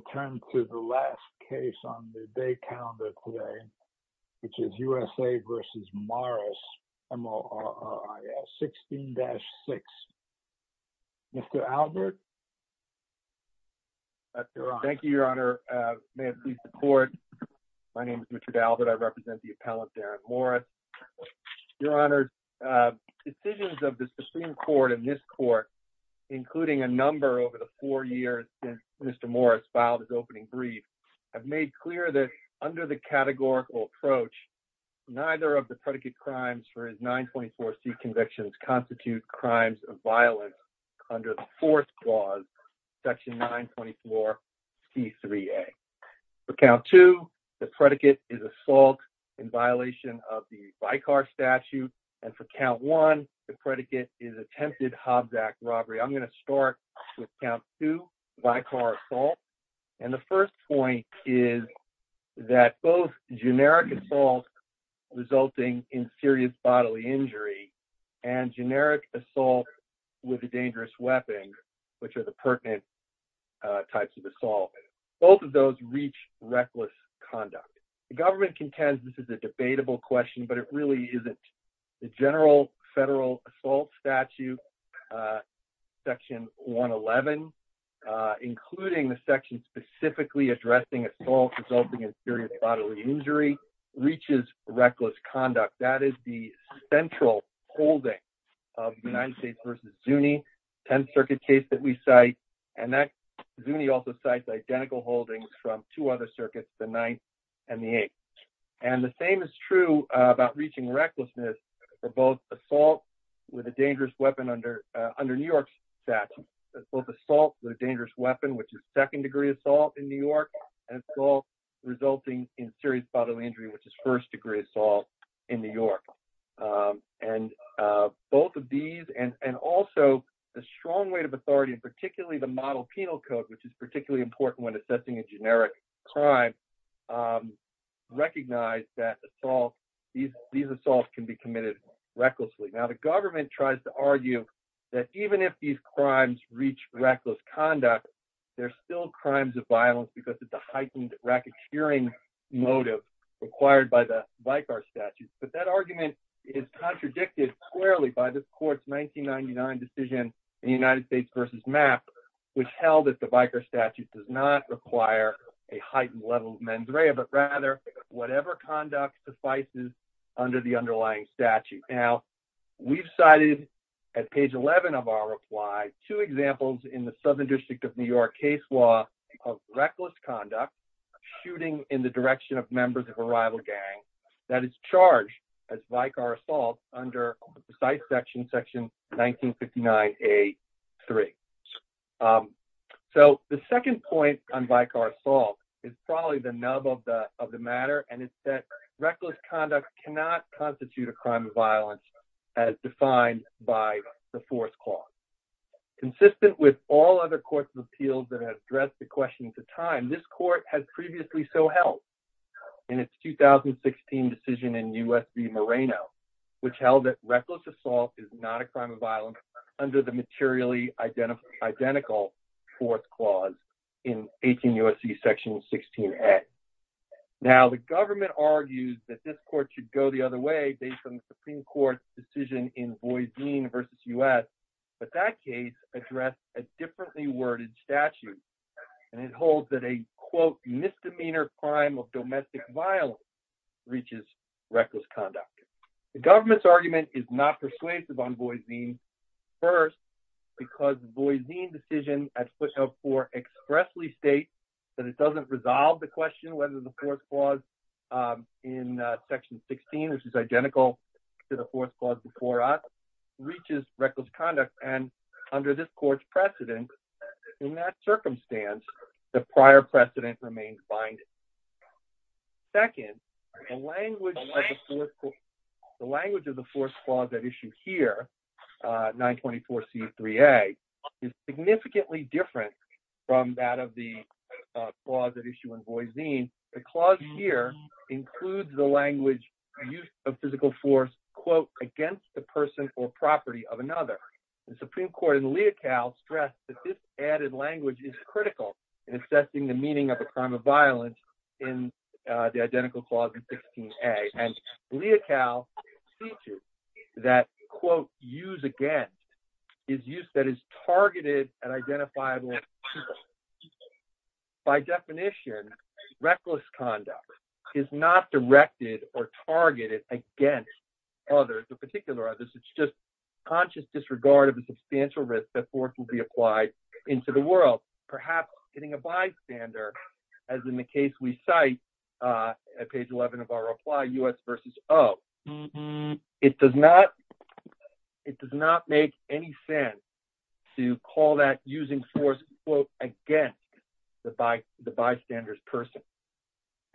16-6. Mr. Albert? Thank you, Your Honor. May it please the Court. My name is Richard Albert. I represent the appellant, Darren Morris. Your Honor, decisions of the Supreme Court in this Court, including a number over the four years since Mr. Morris filed his opening brief, have made clear that under the categorical approach, neither of the predicate crimes for his 924C convictions constitute crimes of violence under the Fourth Clause, Section 924C3A. For Count 2, the predicate is assault in violation of the Vicar Statute, and for Count 1, the predicate is attempted Hobbs Act robbery. I'm going to start with Count 2, vicar assault, and the first point is that both generic assault resulting in serious bodily injury and generic assault with a dangerous weapon, which are the pertinent types of assault, both of those reach reckless conduct. The government contends this is a debatable question, but it really isn't. The General Federal Assault Statute, Section 111, including the section specifically addressing assault resulting in serious bodily injury, reaches reckless conduct. That is the central holding of United States v. Zuni, 10th Circuit case that we cite, and that Zuni also cites identical holdings from two other circuits, the Ninth and the Eighth. And the same is true about reaching recklessness for both assault with a dangerous weapon under New York's statute, both assault with a dangerous weapon, which is second-degree assault in New York, and assault resulting in serious bodily injury, which is first-degree assault in New York. And both of these, and also the strong weight of authority, and particularly the Model Penal Code, which is these assaults can be committed recklessly. Now, the government tries to argue that even if these crimes reach reckless conduct, they're still crimes of violence because it's a heightened racketeering motive required by the Vicar Statute. But that argument is contradicted squarely by this court's 1999 decision in United States v. MAP, which held that the Vicar Statute does not under the underlying statute. Now, we've cited at page 11 of our reply, two examples in the Southern District of New York case law of reckless conduct, shooting in the direction of members of a rival gang that is charged as Vicar assault under the precise section, section 1959A3. So, the second point on Vicar assault is probably the nub of the matter, and it's that reckless conduct cannot constitute a crime of violence as defined by the Fourth Clause. Consistent with all other courts of appeals that have addressed the questions of time, this court has previously so held in its 2016 decision in U.S. v. Moreno, which held that reckless assault is not a crime of violence under the materially identical Fourth Clause in 18 U.S.C. section 16A. Now, the government argues that this court should go the other way based on the Supreme Court's decision in Voisin v. U.S., but that case addressed a differently worded statute, and it holds that a, quote, misdemeanor crime of domestic violence reaches reckless conduct. The government's argument is not persuasive on Voisin, first, because the Voisin decision at whether the Fourth Clause in section 16, which is identical to the Fourth Clause before us, reaches reckless conduct, and under this court's precedent, in that circumstance, the prior precedent remains binding. Second, the language of the Fourth Clause at issue here, 924C3A, is significantly different from that of the clause at issue in Voisin. The clause here includes the language, use of physical force, quote, against the person or property of another. The Supreme Court in Leocal stressed that this added language is critical in assessing the use against, is use that is targeted and identifiable to people. By definition, reckless conduct is not directed or targeted against others or particular others. It's just conscious disregard of the substantial risk that force will be applied into the world, perhaps getting a bystander, as in the case we cite at page 11 of our reply, U.S. v. O. It does not make any sense to call that using force, quote, against the bystander's person.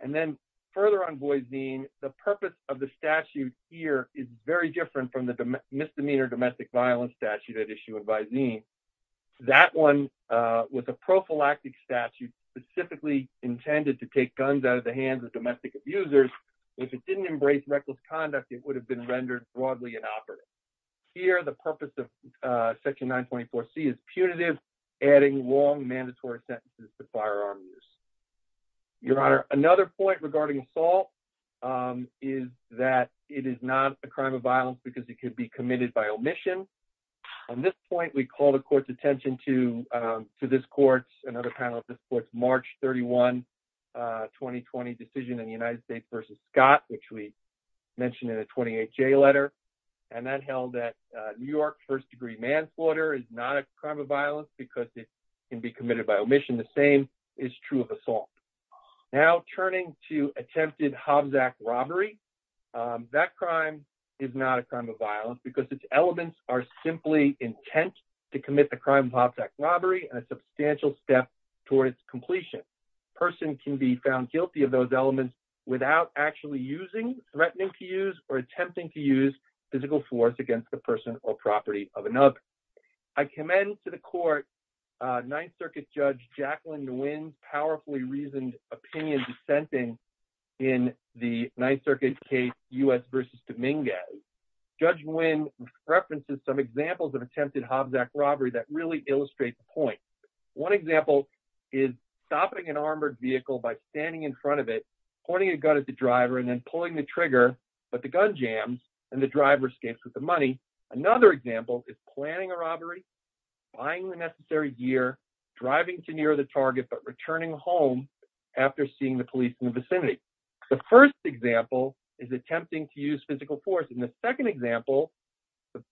And then further on Voisin, the purpose of the statute here is very different from the misdemeanor domestic violence statute at issue in Voisin. That one was a prophylactic statute specifically intended to take guns out of the hands of domestic abusers. If it didn't embrace reckless conduct, it would have been rendered broadly inoperative. Here, the purpose of section 924C is punitive, adding long mandatory sentences to firearm use. Your Honor, another point regarding assault is that it is not a crime of violence because it could be committed by omission. On this point, we call the court's attention to this court's, another panel of this court's, March 31, 2020 decision in the United States v. Scott, which we mentioned in the 28-J letter. And that held that New York first-degree manslaughter is not a crime of violence because it can be committed by omission. The same is true of assault. Now, turning to attempted Hobbs Act robbery, that crime is not a crime of violence because its elements are simply intent to commit the crime of Hobbs Act robbery and a substantial step toward its completion. A person can be found guilty of those elements without actually using threatening to use or attempting to use physical force against the person or property of another. I commend to the court Ninth Circuit Judge Jacqueline Nguyen's powerfully reasoned opinion dissenting in the Ninth Circuit case U.S. v. Dominguez. Judge Nguyen references some examples of attempted Hobbs Act robbery that really illustrate the point. One example is stopping an armored vehicle by standing in front of it, pointing a gun at the driver, and then pulling the trigger, but the gun jams and the driver escapes with the money. Another example is planning a robbery, buying the necessary gear, driving to near the target, but returning home after seeing the police in the vicinity. The first example is attempting to use physical force. In the second example,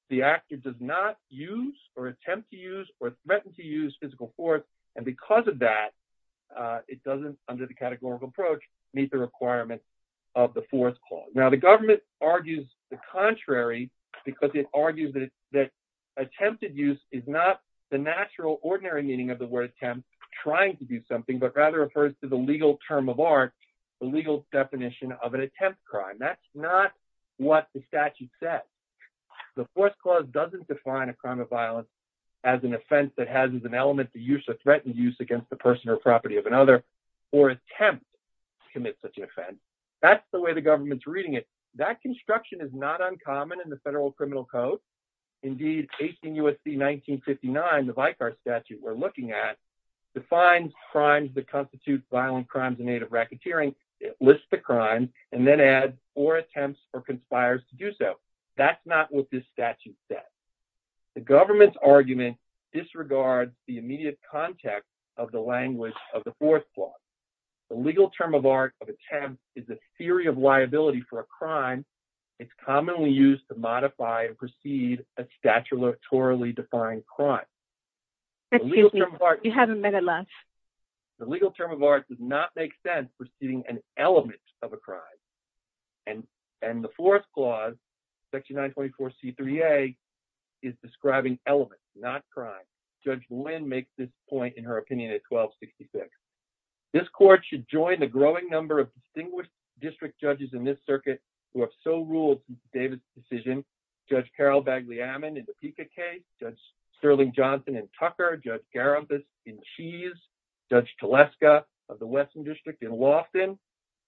the actor does not use or attempt to use or threaten to use physical force, and because of that, it doesn't, under the categorical approach, meet the requirements of the Fourth Clause. Now, the government argues the contrary because it argues that attempted use is not the natural, ordinary meaning of the word attempt, trying to do something, but rather refers to the legal term of art, the legal definition of an attempt crime. That's not what the statute says. The Fourth Clause doesn't define a crime of violence as an offense that has as an element the use or threatened use against the person or property of another, or attempt to commit such an offense. That's the way the government's reading it. That construction is not uncommon in the Federal Criminal Code. Indeed, 18 U.S.C. 1959, the Vicar Statute we're looking at, defines crimes that constitute violent crimes in aid of racketeering, it lists the crime, and then adds or attempts or conspires to do so. That's not what this statute says. The government's argument disregards the immediate context of the language of the Fourth Clause. The legal term of art of attempt is a theory of liability for a crime. It's commonly used to modify and precede a statutorily defined crime. The legal term of art does not make sense preceding an element of a crime. And the Fourth Clause, Section 924 C3A, is describing elements, not crime. Judge Lynn makes this point in her opinion at 1266. This court should join the growing number of distinguished district judges in this circuit who have so ruled David's decision. Judge Carol Bagley-Ammon in the Pica case, Judge Sterling Johnson in Tucker, Judge Garibus in Cheese, Judge Teleska of the Wesson District in Lofton,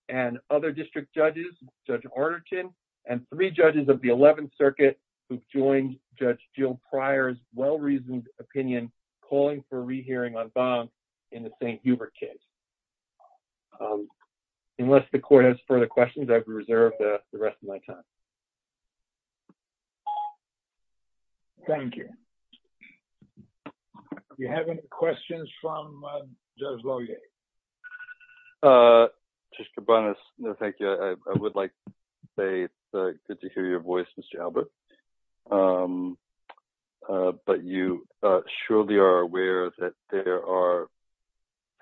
and other district judges, Judge Arterton, and three judges of the 11th Circuit who've joined Judge Jill Pryor's well-reasoned opinion, calling for a re-hearing on Bonn in the St. Hubert case. Unless the court has further questions, I've reserved the rest of my time. Thank you. Do we have any questions from Judge Lohier? Judge Kabanos, thank you. I would like to say it's good to hear your voice, Mr. Albert. But you surely are aware that there are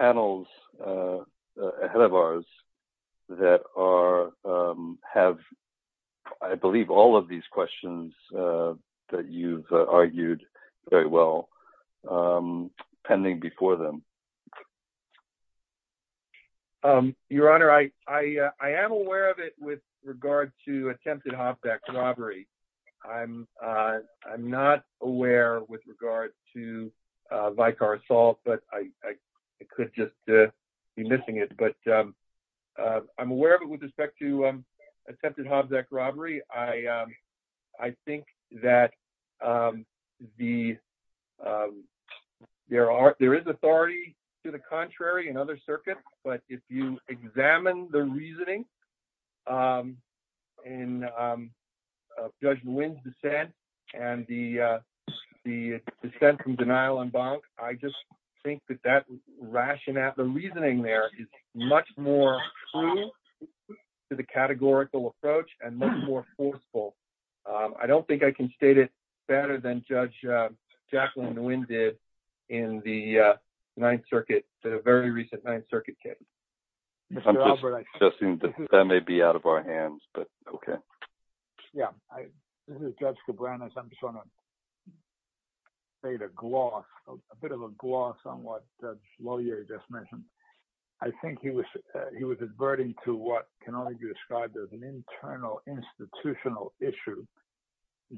panels ahead of ours that are, have I believe all of these questions that you've argued very well pending before them. Your Honor, I am aware of it with regard to attempted hop-back robbery. I'm not aware with regard to Vicar assault, but I could just be missing it. But I'm aware of it with respect to hop-back robbery. I think that there is authority to the contrary in other circuits, but if you examine the reasoning in Judge Nguyen's dissent and the dissent from denial on Bonn, I just think that rationale, the reasoning there is much more true to the categorical approach and much more forceful. I don't think I can state it better than Judge Jacqueline Nguyen did in the Ninth Circuit, a very recent Ninth Circuit case. I'm just suggesting that may be out of our hands, but okay. Yeah, this is Judge Cabranes. I'm just trying to fade a gloss, a bit of a gloss on what Judge Loyer just mentioned. I think he was, he was adverting to what can only be described as an internal institutional issue,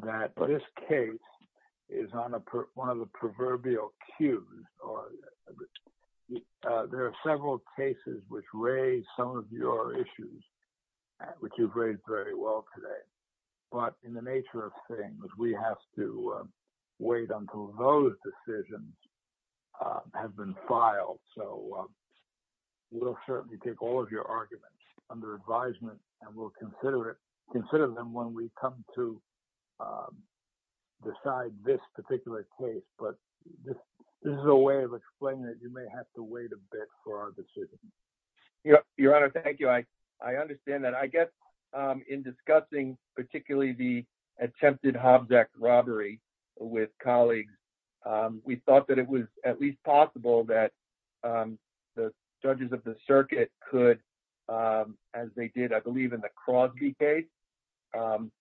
that this case is on one of the proverbial cues. There are several cases which raise some of your issues, which you've raised very well today. But in the nature of things, we have to wait until those decisions have been filed. So we'll certainly take all of your arguments under advisement and we'll consider it, consider them when we come to decide this particular case. But this is a way of explaining that you may have to wait a bit for our decision. Your Honor, thank you. I understand that. I guess in discussing particularly the attempted Hobbs Act robbery with colleagues, we thought that it was at least possible that the judges of the circuit could, as they did, I believe, in the Crosby case,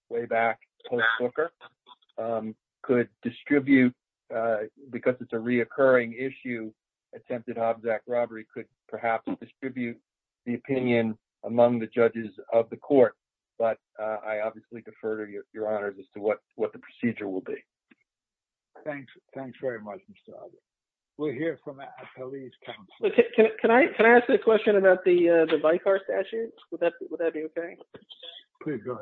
way back post-Booker, could distribute, because it's a reoccurring issue, attempted Hobbs Act robbery could perhaps distribute the opinion among the judges of the court. But I obviously defer to your Honor as to what the procedure will be. Thanks. Thanks very much, Mr. Adler. We'll hear from a police counselor. Can I ask a question about the VICAR statute? Would that be okay? Please go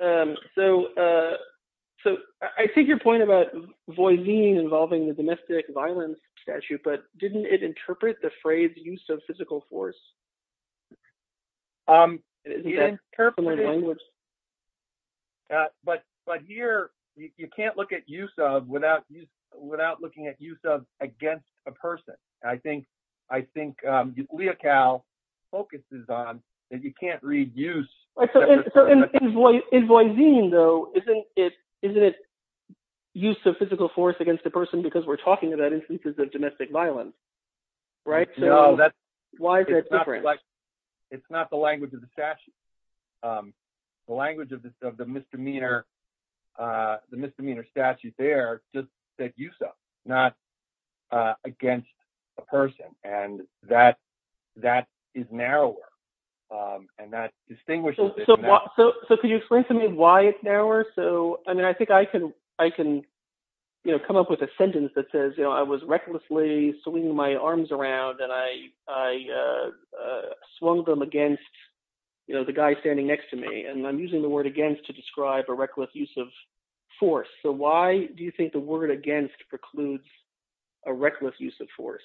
ahead. So I think your point about Voisin involving the domestic violence statute, but didn't it interpret the phrase use of physical force? But here, you can't look at use of without looking at use of against a person. I think Leocal focuses on that you can't read use. In Voisin though, isn't it use of physical force against a person because we're talking about instances of domestic violence, right? So why is that different? It's not the language of the statute. The language of the misdemeanor statute there just said use of, not against a person. And that is narrower and that distinguishes it. So could you explain to me why it's narrower? So I mean, I think I can come up with a sentence that says, you know, I was recklessly swinging my arms around and I swung them against, you know, the guy standing next to me and I'm using the word against to describe a reckless use of force. So why do you think the word against precludes a reckless use of force?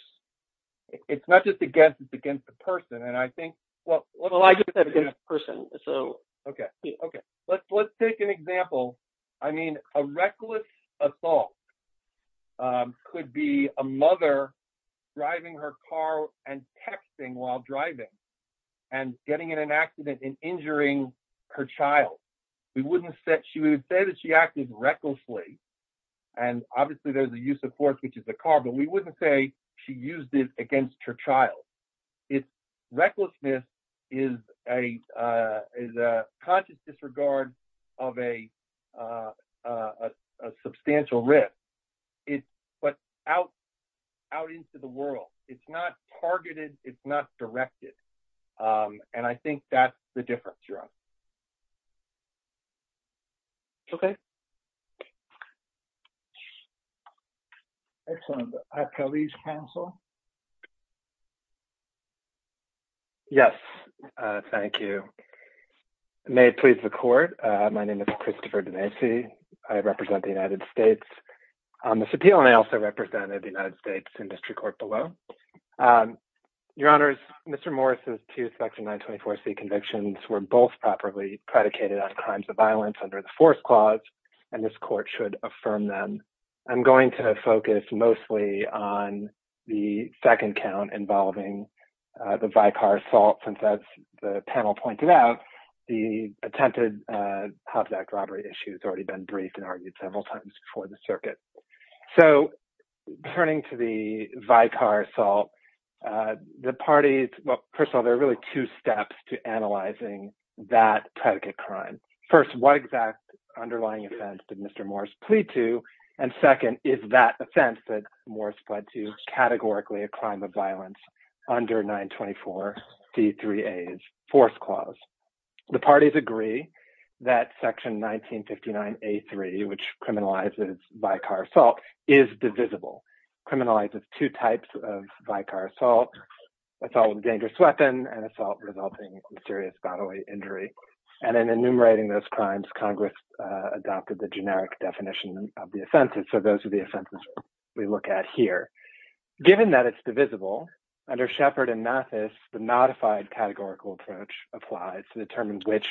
It's not just against, it's against the person. And I think... Well, I get that against the person. Okay. Okay. Let's take an example. I mean, a reckless assault could be a mother driving her car and texting while driving and getting in an accident and injuring her child. She would say that she acted recklessly. And obviously there's a use of force, which is a car, but we wouldn't say she used it against her child. Recklessness is a conscious disregard of a substantial risk. But out into the world, it's not targeted, it's not directed. And I think that's the difference. Okay. Excellent. Appellee's counsel. Yes. Thank you. May it please the court. My name is Christopher Dinesi. I represent the United States on this appeal and I also represented the United States in district court below. Your honors, Mr. Morris' two section 924C convictions were both properly predicated on crimes of violence under the force clause and this court should affirm them. I'm going to focus mostly on the second count involving the Vicar assault since as the panel pointed out, the attempted Hobbs Act robbery issue has already been briefed and argued several times before the assault. The parties, well, first of all, there are really two steps to analyzing that predicate crime. First, what exact underlying offense did Mr. Morris plead to? And second, is that offense that Morris pled to categorically a crime of violence under 924C3A's force clause. The parties agree that section 1959A3, which criminalizes Vicar assault is divisible, criminalizes two types of Vicar assault, assault with a dangerous weapon and assault resulting in serious bodily injury. And in enumerating those crimes, Congress adopted the generic definition of the offenses. So those are the offenses we look at here. Given that it's divisible, under Sheppard and Mathis, the modified categorical approach applies to determine which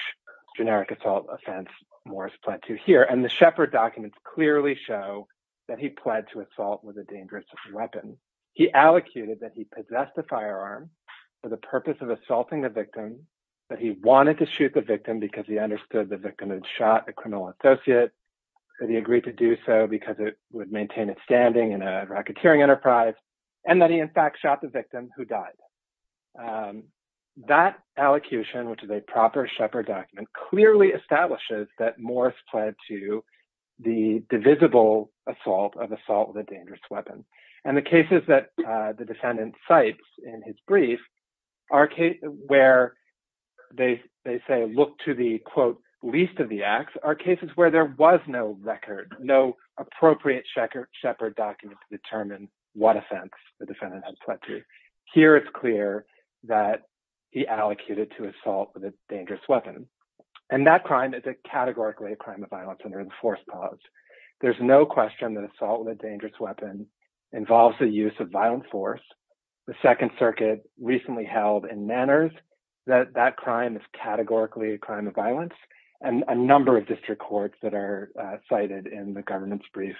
generic assault offense Morris pled to here. And the Sheppard documents clearly show that he pled to assault with a dangerous weapon. He allocated that he possessed a firearm for the purpose of assaulting the victim, that he wanted to shoot the victim because he understood the victim had shot a criminal associate, that he agreed to do so because it would maintain its standing in a racketeering enterprise, and that he in fact shot the victim who died. That allocution, which is a proper Sheppard document, clearly establishes that Morris pled to the divisible assault of assault with a dangerous weapon. And the cases that the defendant cites in his brief, where they say, look to the quote, least of the acts, are cases where there was no record, no appropriate Sheppard document to determine what offense the defendant had pled to. Here it's clear that he allocated to assault with a dangerous weapon. And that crime is a categorically a crime of violence under the force clause. There's no question that assault with a dangerous weapon involves the use of violent force. The Second Circuit recently held in Manners that that crime is categorically a crime of violence, and a number of district courts that are cited in the government's brief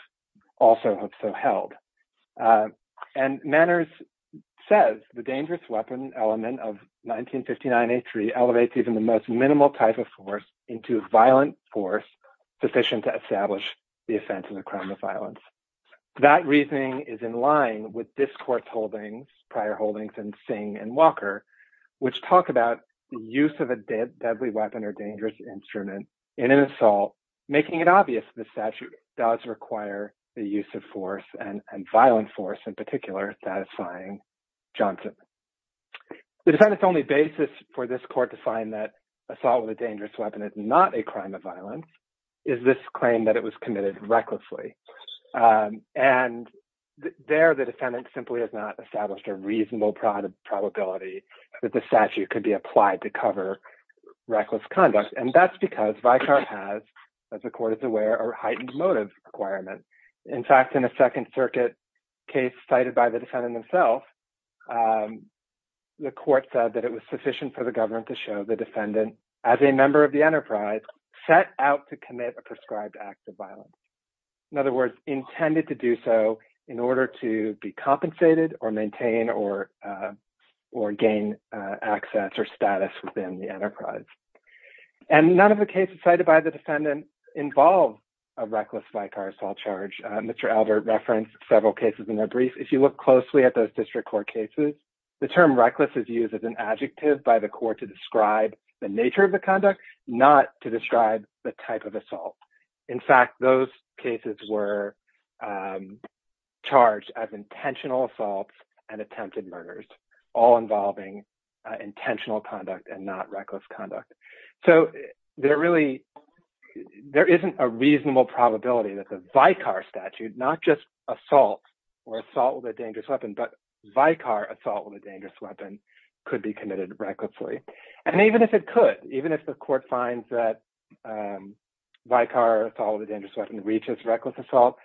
also have so held. And Manners says the dangerous weapon element of 1959-83 elevates even the most minimal type of force into violent force sufficient to establish the offense of the crime of violence. That reasoning is in line with this court's holdings, prior holdings in Singh and Walker, which talk about the use of a deadly weapon or dangerous instrument in an assault, making it obvious the statute does require the use of force and violent force, in particular satisfying Johnson. The defendant's only basis for this court to find that assault with a dangerous weapon is not a crime of violence is this claim that it was committed recklessly. And there the defendant simply has not established a reasonable probability that the statute could be applied to cover reckless conduct. And that's because Vicar has, as the court is aware, a heightened motive requirement. In fact, in a Second Circuit case cited by the defendant himself, the court said that it was sufficient for the government to show the defendant, as a member of the enterprise, set out to commit a prescribed act of violence. In other words, intended to do so in order to be compensated or maintain or gain access or status within the enterprise. And none of the cases cited by the defendant involve a reckless assault charge. Mr. Albert referenced several cases in their brief. If you look closely at those district court cases, the term reckless is used as an adjective by the court to describe the nature of the conduct, not to describe the type of assault. In fact, those cases were charged as intentional assaults and attempted murders, all involving intentional conduct and not reckless conduct. So there isn't a reasonable probability that the Vicar statute, not just assault or assault with a dangerous weapon, but Vicar assault with a dangerous weapon could be committed recklessly. And even if it could, even if the court finds that Vicar assault with a dangerous weapon reaches reckless assault,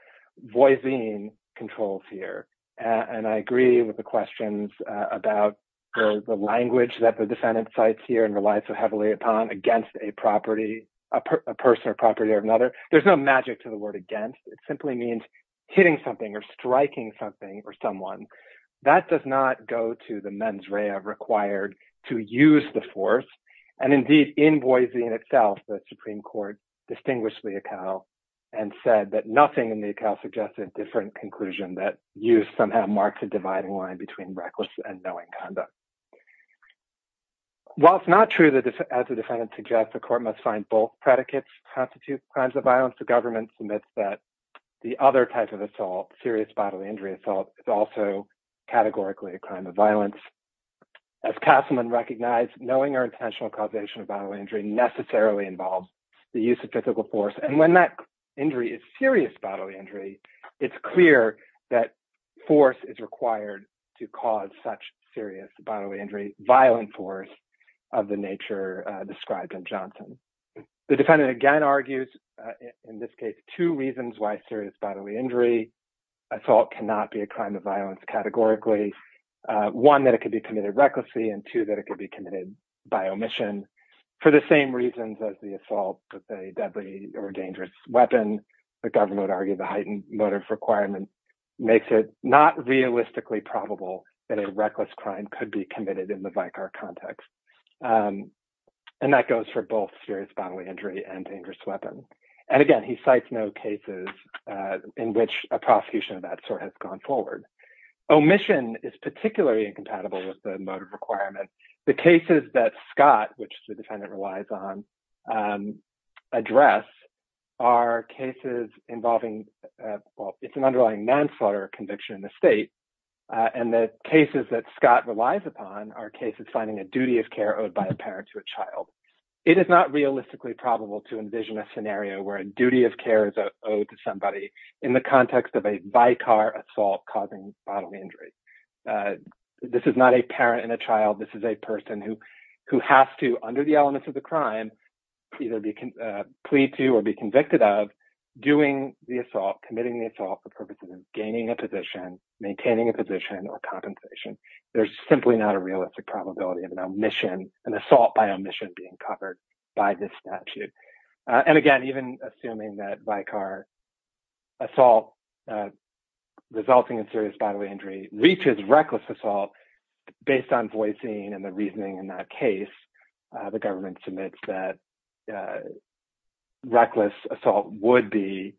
Voisin controls here. And I agree with the questions about the language that the defendant cites here and relies so heavily upon against a property, a person or property or another. There's no magic to the word against. It simply means hitting something or striking something or someone. That does not go to the mens rea required to use the force. And indeed in Voisin itself, the Supreme Court distinguished the Vicar and said that nothing in the Vicar suggested different conclusion that use somehow marks a dividing line between reckless and knowing conduct. While it's not true that as the defendant suggests, the court must find both predicates constitute crimes of violence, the government submits that the other type of assault, serious bodily injury assault, is also categorically a crime of violence. As Castleman recognized, knowing or intentional causation of bodily injury necessarily involves the use of physical force. And when that injury is serious bodily injury, it's clear that force is required to cause such serious bodily injury, violent force of the nature described in Johnson. The defendant again argues in this case, two reasons why serious bodily injury assault cannot be a crime of violence categorically. One, that it could be committed recklessly and two, that it could be committed by omission. For the same reasons as the assault with a deadly or dangerous weapon, the government argued the heightened motive requirement makes it not realistically probable that a reckless crime could be committed in the Vicar context. And that goes for both serious bodily injury and dangerous weapons. And again, he cites no cases in which a prosecution of that sort has gone forward. Omission is particularly incompatible with the motive requirement. The cases that Scott, which the defendant relies on, address are cases involving, well, it's an underlying manslaughter conviction in the state. And the cases that Scott relies upon are cases finding a duty of care owed by a parent to a to somebody in the context of a Vicar assault causing bodily injury. This is not a parent and a child. This is a person who has to, under the elements of the crime, either plead to or be convicted of doing the assault, committing the assault for purposes of gaining a position, maintaining a position or compensation. There's simply not a realistic probability of an omission, an assault by omission being covered by this statute. And again, even assuming that Vicar assault resulting in serious bodily injury reaches reckless assault based on voicing and the reasoning in that case, the government submits that reckless assault would be,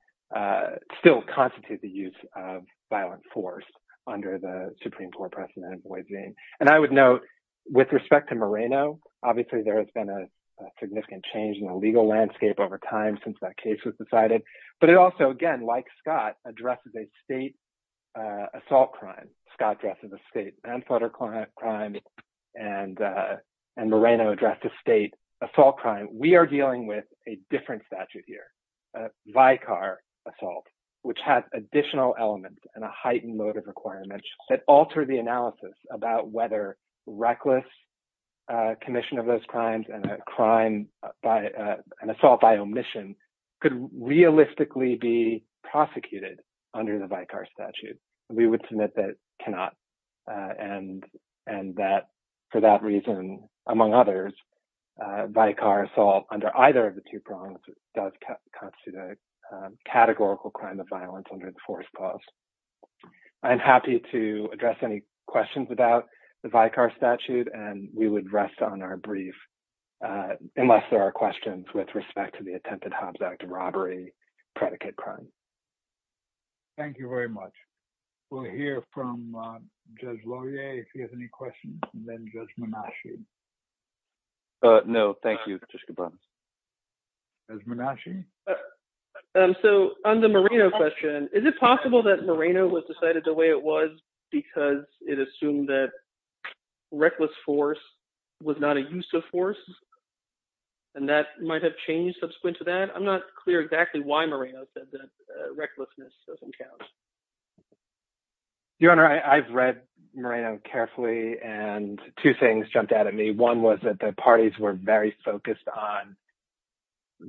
still constitute the use of violent force under the Supreme Court precedent of voicing. And I would note, with respect to Moreno, obviously there has been a significant change in the legal landscape over time since that case was decided. But it also, again, like Scott, addresses a state assault crime. Scott addresses a state manslaughter crime and Moreno addressed a state assault crime. We are dealing with a different statute here, a Vicar assault, which has additional elements and a heightened load of requirements that alter the analysis about whether reckless commission of those crimes and a crime by an assault by omission could realistically be prosecuted under the Vicar statute. We would submit that it cannot. And that for that reason, among others, Vicar assault under either of the two prongs does constitute a categorical crime of violence under the fourth clause. I'm happy to address any questions about the Vicar statute, and we would rest on our brief, unless there are questions with respect to the attempted Hobbs Act robbery predicate crime. Thank you very much. We'll hear from Judge Laurier if he has any questions, and then Judge Monashi. No, thank you, Patricia Barnes. Judge Monashi? So on the Moreno question, is it possible that Moreno was decided the way it was because it assumed that reckless force was not a use of force, and that might have changed subsequent to that? I'm not clear exactly why Moreno said that recklessness doesn't count. Your Honor, I've read Moreno carefully, and two things jumped out at me. One was that the parties were very focused on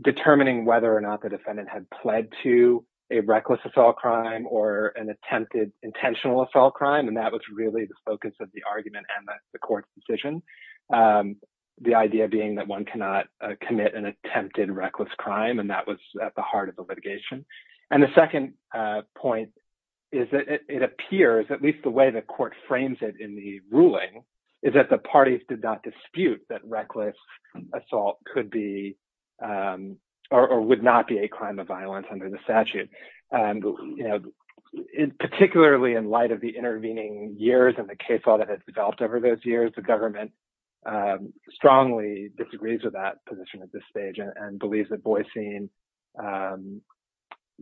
determining whether or not the defendant had pled to a reckless assault crime or an attempted intentional assault crime, and that was really the focus of the argument and the court's decision. The idea being that one cannot commit an attempted reckless crime, and that was at the heart of the litigation. And the second point is that it appears, at least the way the court frames it in the ruling, is that the parties did not dispute that reckless assault would not be a crime of violence under the statute. Particularly in light of the intervening years and the case law that has developed over those years, the government strongly disagrees with that position at this stage and believes that Boycine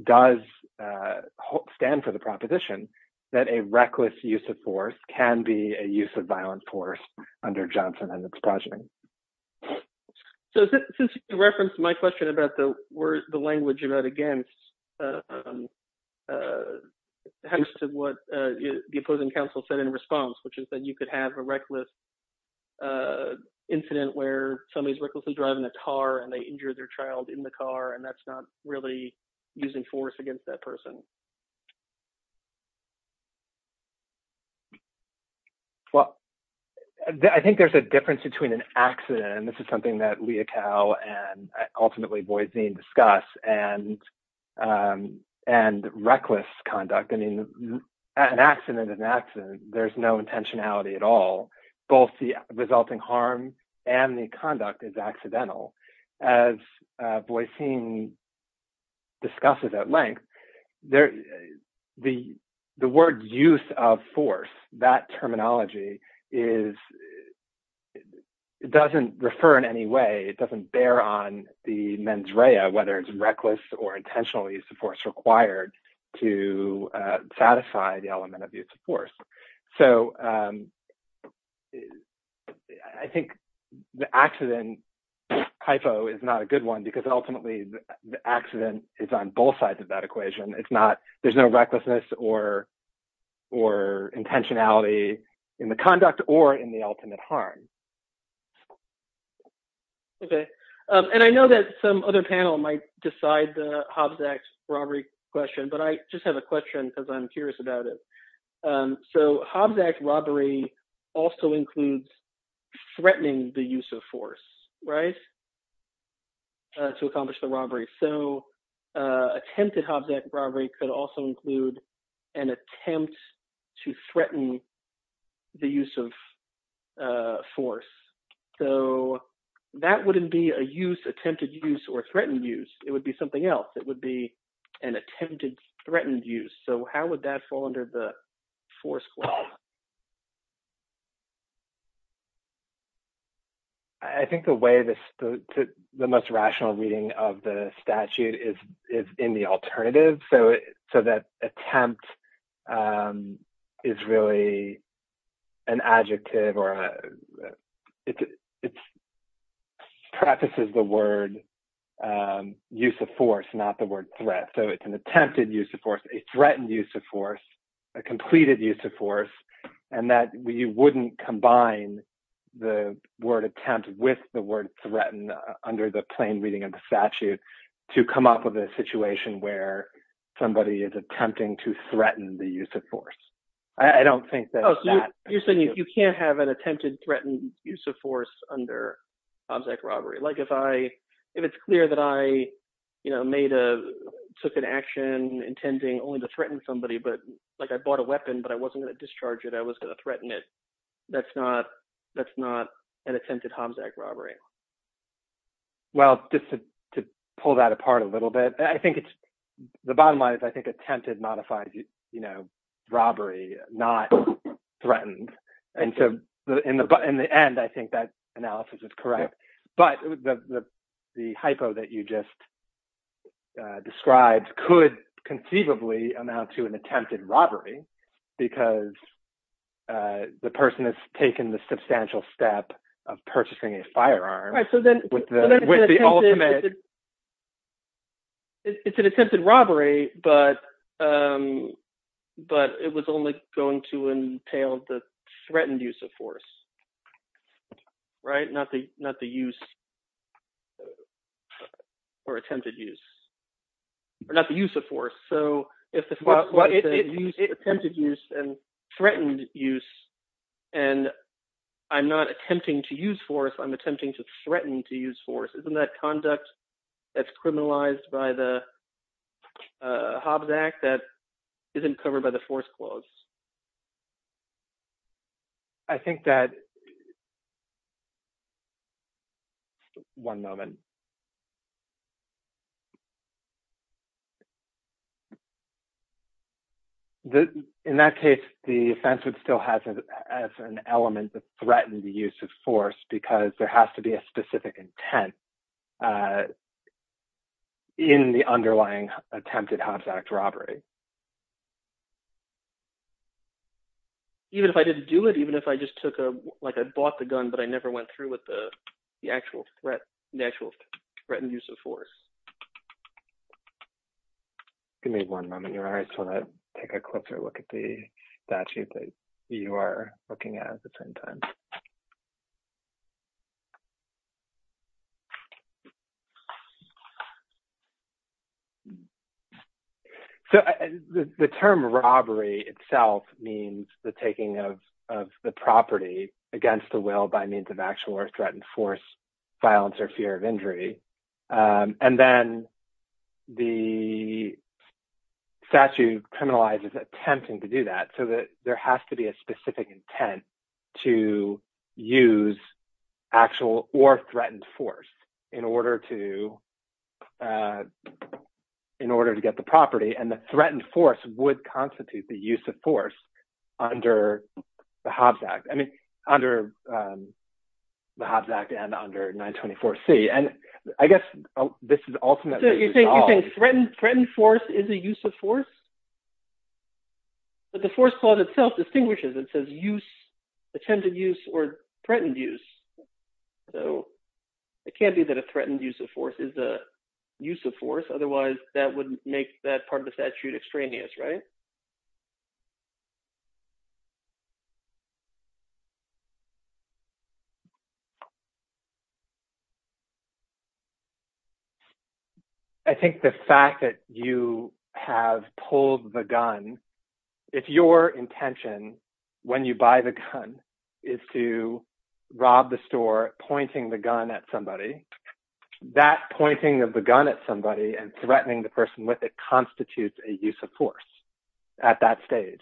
does stand for the proposition that a reckless use of force can be a use of violence force under Johnson and its progeny. So since you referenced my question about the language you wrote against, thanks to what the opposing counsel said in response, which is that you could have a reckless incident where somebody's recklessly driving a car and they injure their child in the car, and that's not really using force against that person. Well, I think there's a difference between an accident, and this is something that Leachow and ultimately Boycine discuss, and reckless conduct. I mean, an accident is an accident. There's no intentionality at all. Both the resulting harm and the conduct is accidental. As Boycine discusses at length, the word use of force, that terminology, doesn't refer in any way, it doesn't bear on the mens rea, whether it's reckless or intentional. So I think the accident hypo is not a good one because ultimately the accident is on both sides of that equation. It's not, there's no recklessness or intentionality in the conduct or in the ultimate harm. Okay. And I know that some other panel might decide the Hobbs Act robbery question, but I just have a question because I'm curious about it. So Hobbs Act robbery also includes threatening the use of force, right, to accomplish the robbery. So attempted Hobbs Act robbery could also include an attempt to threaten the use of force. So that wouldn't be a use, attempted use, or threatened use. It would be something else. It would be an attempted, threatened use. So how would that fall under the force clause? I think the way, the most rational reading of the statute is in the alternative. So that attempt is really an adjective, or it prefaces the word use of force, not the word threat. So it's an attempted use of force, a threatened use of force, a completed use of force, and that you wouldn't combine the word attempt with the word threatened under the plain reading of the statute to come up with a situation where somebody is attempting to threaten the use of force. I don't think that's that. You're saying you can't have an attempted threatened use of force under Hobbs Act robbery. Like if it's clear that I took an action intending only to threaten somebody, but like I bought a weapon, but I wasn't going to discharge it. I was going to threaten it. That's not an attempted Hobbs Act robbery. Well, just to pull that apart a little bit, the bottom line is I think attempted modifies robbery, not threatened. And so in the end, I think that analysis is correct. But the hypo that you just described could conceivably amount to an attempted robbery because the person has taken the substantial step of purchasing a firearm with the ultimate. It's an attempted robbery, but it was only going to entail the threatened use of force, right? Not the use or attempted use or not the use of force. So attempted use and threatened use, and I'm not attempting to use force, I'm attempting to threaten to use force. Isn't that conduct that's criminalized by the Hobbs Act that isn't covered by the force clause? I think that... One moment. In that case, the offense would still have as an element to threaten the use of force because there has to be a specific intent in the underlying attempted Hobbs Act robbery. Even if I didn't do it, even if I just took a, like I bought the gun, but I never went through the actual threat and use of force. Give me one moment. I just want to take a closer look at the statute that you are looking at at the same time. So the term robbery itself means the taking of the property against the will by means of actual or threatened force, violence, or fear of injury. And then the statute criminalizes attempting to do that so that there has to be a specific intent to use actual or threatened force in order to get the property. And the threatened force would constitute the use of force under the Hobbs Act. I mean, under the Hobbs Act and under 924C. And I guess this is ultimately... So you're saying threatened force is a use of force? But the force clause itself distinguishes. It says use, attempted use, or threatened use. So it can't be that a threatened use of force is a use of force. Otherwise that wouldn't make that part of the statute extraneous, right? I think the fact that you have pulled the gun, if your intention when you buy the gun is to rob the store, pointing the gun at somebody, that pointing of the gun at somebody and threatening the person with it constitutes a use of force at that stage.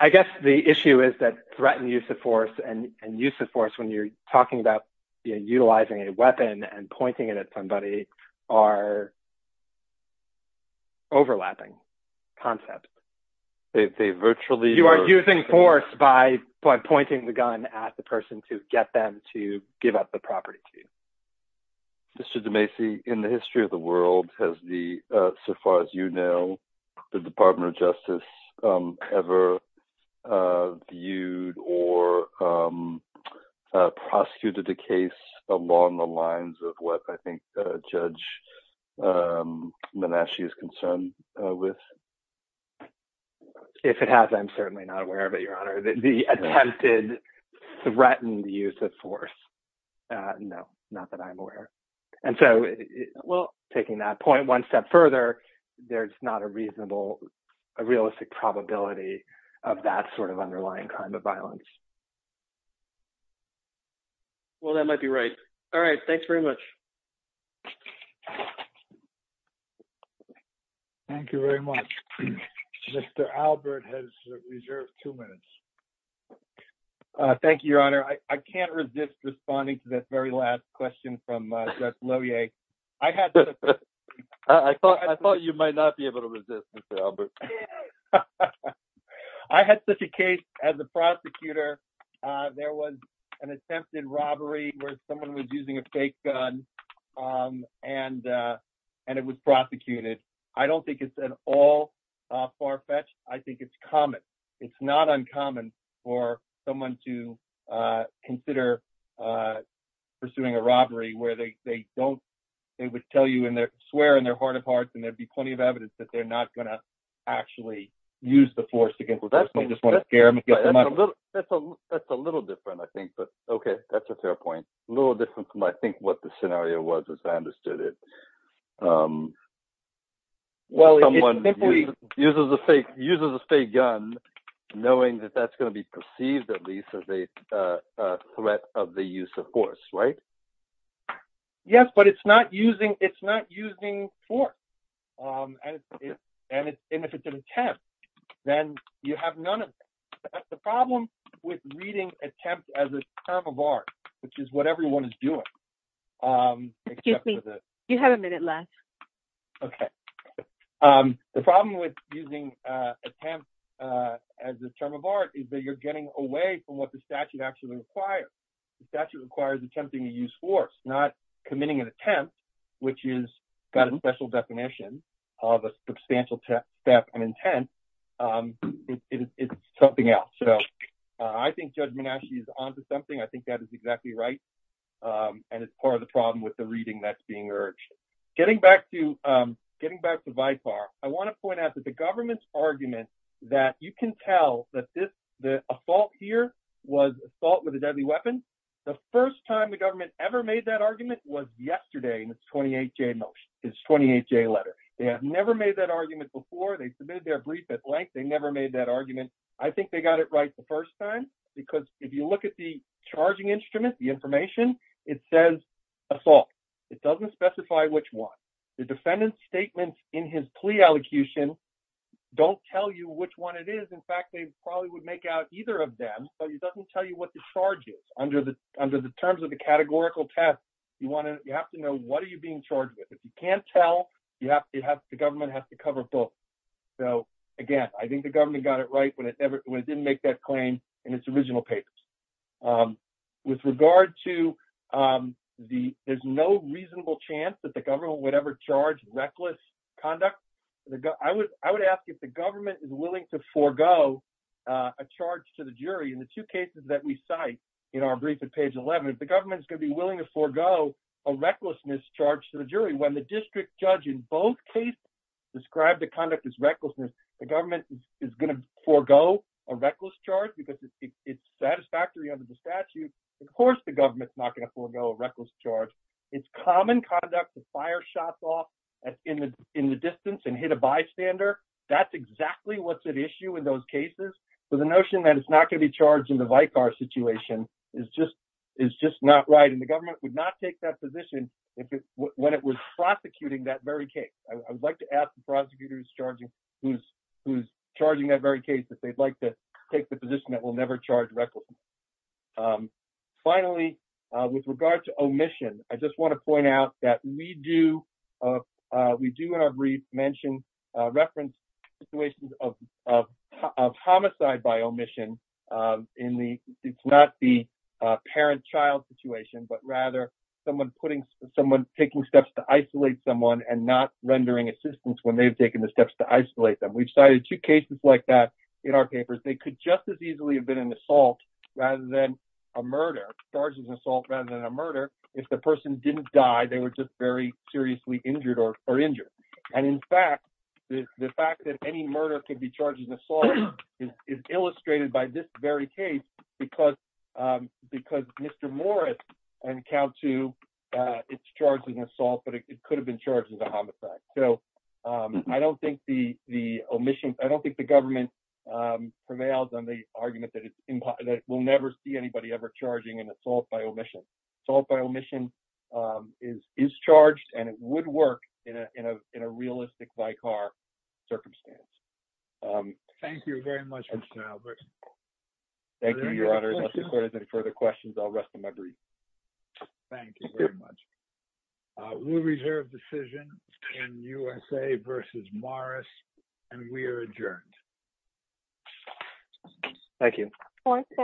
I guess the issue is that threatened use of force and use of force when you're talking about utilizing a weapon and pointing it at somebody are overlapping concepts. They virtually... You are using force by pointing the gun at the person to get them to give up the property to you. Mr. DeMacy, in the history of the world, has the, so far as you know, the Department of Justice ever viewed or prosecuted a case along the lines of what I think Judge Menachie is concerned with? If it has, I'm certainly not aware of it, Your Honor. The attempted threatened use of force, no, not that I'm aware. And so, well, taking that point one step further, there's not a reasonable, a realistic probability of that sort of underlying crime of violence. Well, that might be right. All right. Thanks very much. Thank you very much. Mr. Albert has reserved two minutes. Thank you, Your Honor. I can't resist responding to that very last question from Judge Lohier. I thought you might not be able to resist, Mr. Albert. I had such a case as a prosecutor. There was an attempted robbery where someone was using a fake gun and it was prosecuted. I don't think it's at all far-fetched. I think it's common. It's not uncommon for someone to consider pursuing a robbery where they don't, they would tell you in their, swear in their heart of hearts, and there'd be plenty of evidence that they're not going to actually use the force against the person. They just want to scare them. That's a little different, I think. But, okay, that's a fair point. A little different from, I think, what the scenario was, as I understood it. Well, it's simply- Someone uses a fake gun knowing that that's going to be perceived, at least, as a threat of the use of force, right? Yes, but it's not using force. And if it's an attempt, then you have none of it. That's the problem with reading attempt as a term of art, which is what everyone is doing. Excuse me, you have a minute left. Okay. The problem with using attempt as a term of art is that you're getting away from what the statute actually requires. The statute requires attempting to use force, not committing an attempt, which has got a special definition of a substantial theft and intent. It's something else. I think Judge Manasci is on to something. I think that is exactly right. And it's part of the problem with the reading that's being urged. Getting back to VIPAR, I want to point out that the government's argument that you can tell that this, the assault here, was assault with a deadly weapon. The first time the government ever made that argument was yesterday in its 28-J motion, its 28-J letter. They have never made that argument before. They submitted their brief at length. They never made that argument. I think they got it right the first time because if you look at the charging instrument, the information, it says assault. It doesn't specify which one. The defendant's statement in his plea elocution don't tell you which one it is. In fact, they probably would make out either of them, but it doesn't tell you what the charge is. Under the terms of the categorical test, you have to know what are you being charged with. If you can't tell, the government has to cover both. Again, I think the government got it right when it didn't make that claim in its original papers. With regard to there's no reasonable chance that the government would ever charge reckless conduct, I would ask if the government is willing to forego a charge to the jury. In the two cases that we cite in our brief at page 11, if the government is going to be willing to forego a recklessness charge to the jury, when the district judge in both cases described the conduct as recklessness, the government is going to forego a reckless charge because it's satisfactory under the statute. Of course, the government's not going to forego a reckless charge. It's common conduct to fire shots off in the distance and hit a bystander. That's exactly what's at issue in those cases. The notion that it's not going to be charged in the Vicar situation is just not right. The government would not take that position when it was prosecuting that very case. I would like to ask the prosecutors who's charging that very case if they'd like to take the position that we'll never charge recklessness. Finally, with regard to omission, I just want to point out that we do in our brief mention reference situations of homicide by omission. It's not the parent-child situation, but rather someone taking steps to isolate someone and not rendering assistance when they've taken the steps to isolate them. We've cited two cases like that in our papers. They could just as easily have been an assault rather than a murder. If the person didn't die, they were just very seriously injured or injured. In fact, the fact that any murder could be charged in assault is illustrated by this very case because Mr. Morris and Count so I don't think the government prevails on the argument that we'll never see anybody ever charging an assault by omission. Assault by omission is charged and it would work in a realistic Vicar circumstance. Thank you very much, Mr. Albert. Thank you, Your Honor. If there's any further questions, I'll rest my brief. Thank you very much. We'll reserve decision in USA versus Morris and we are adjourned. Thank you. Court is adjourned.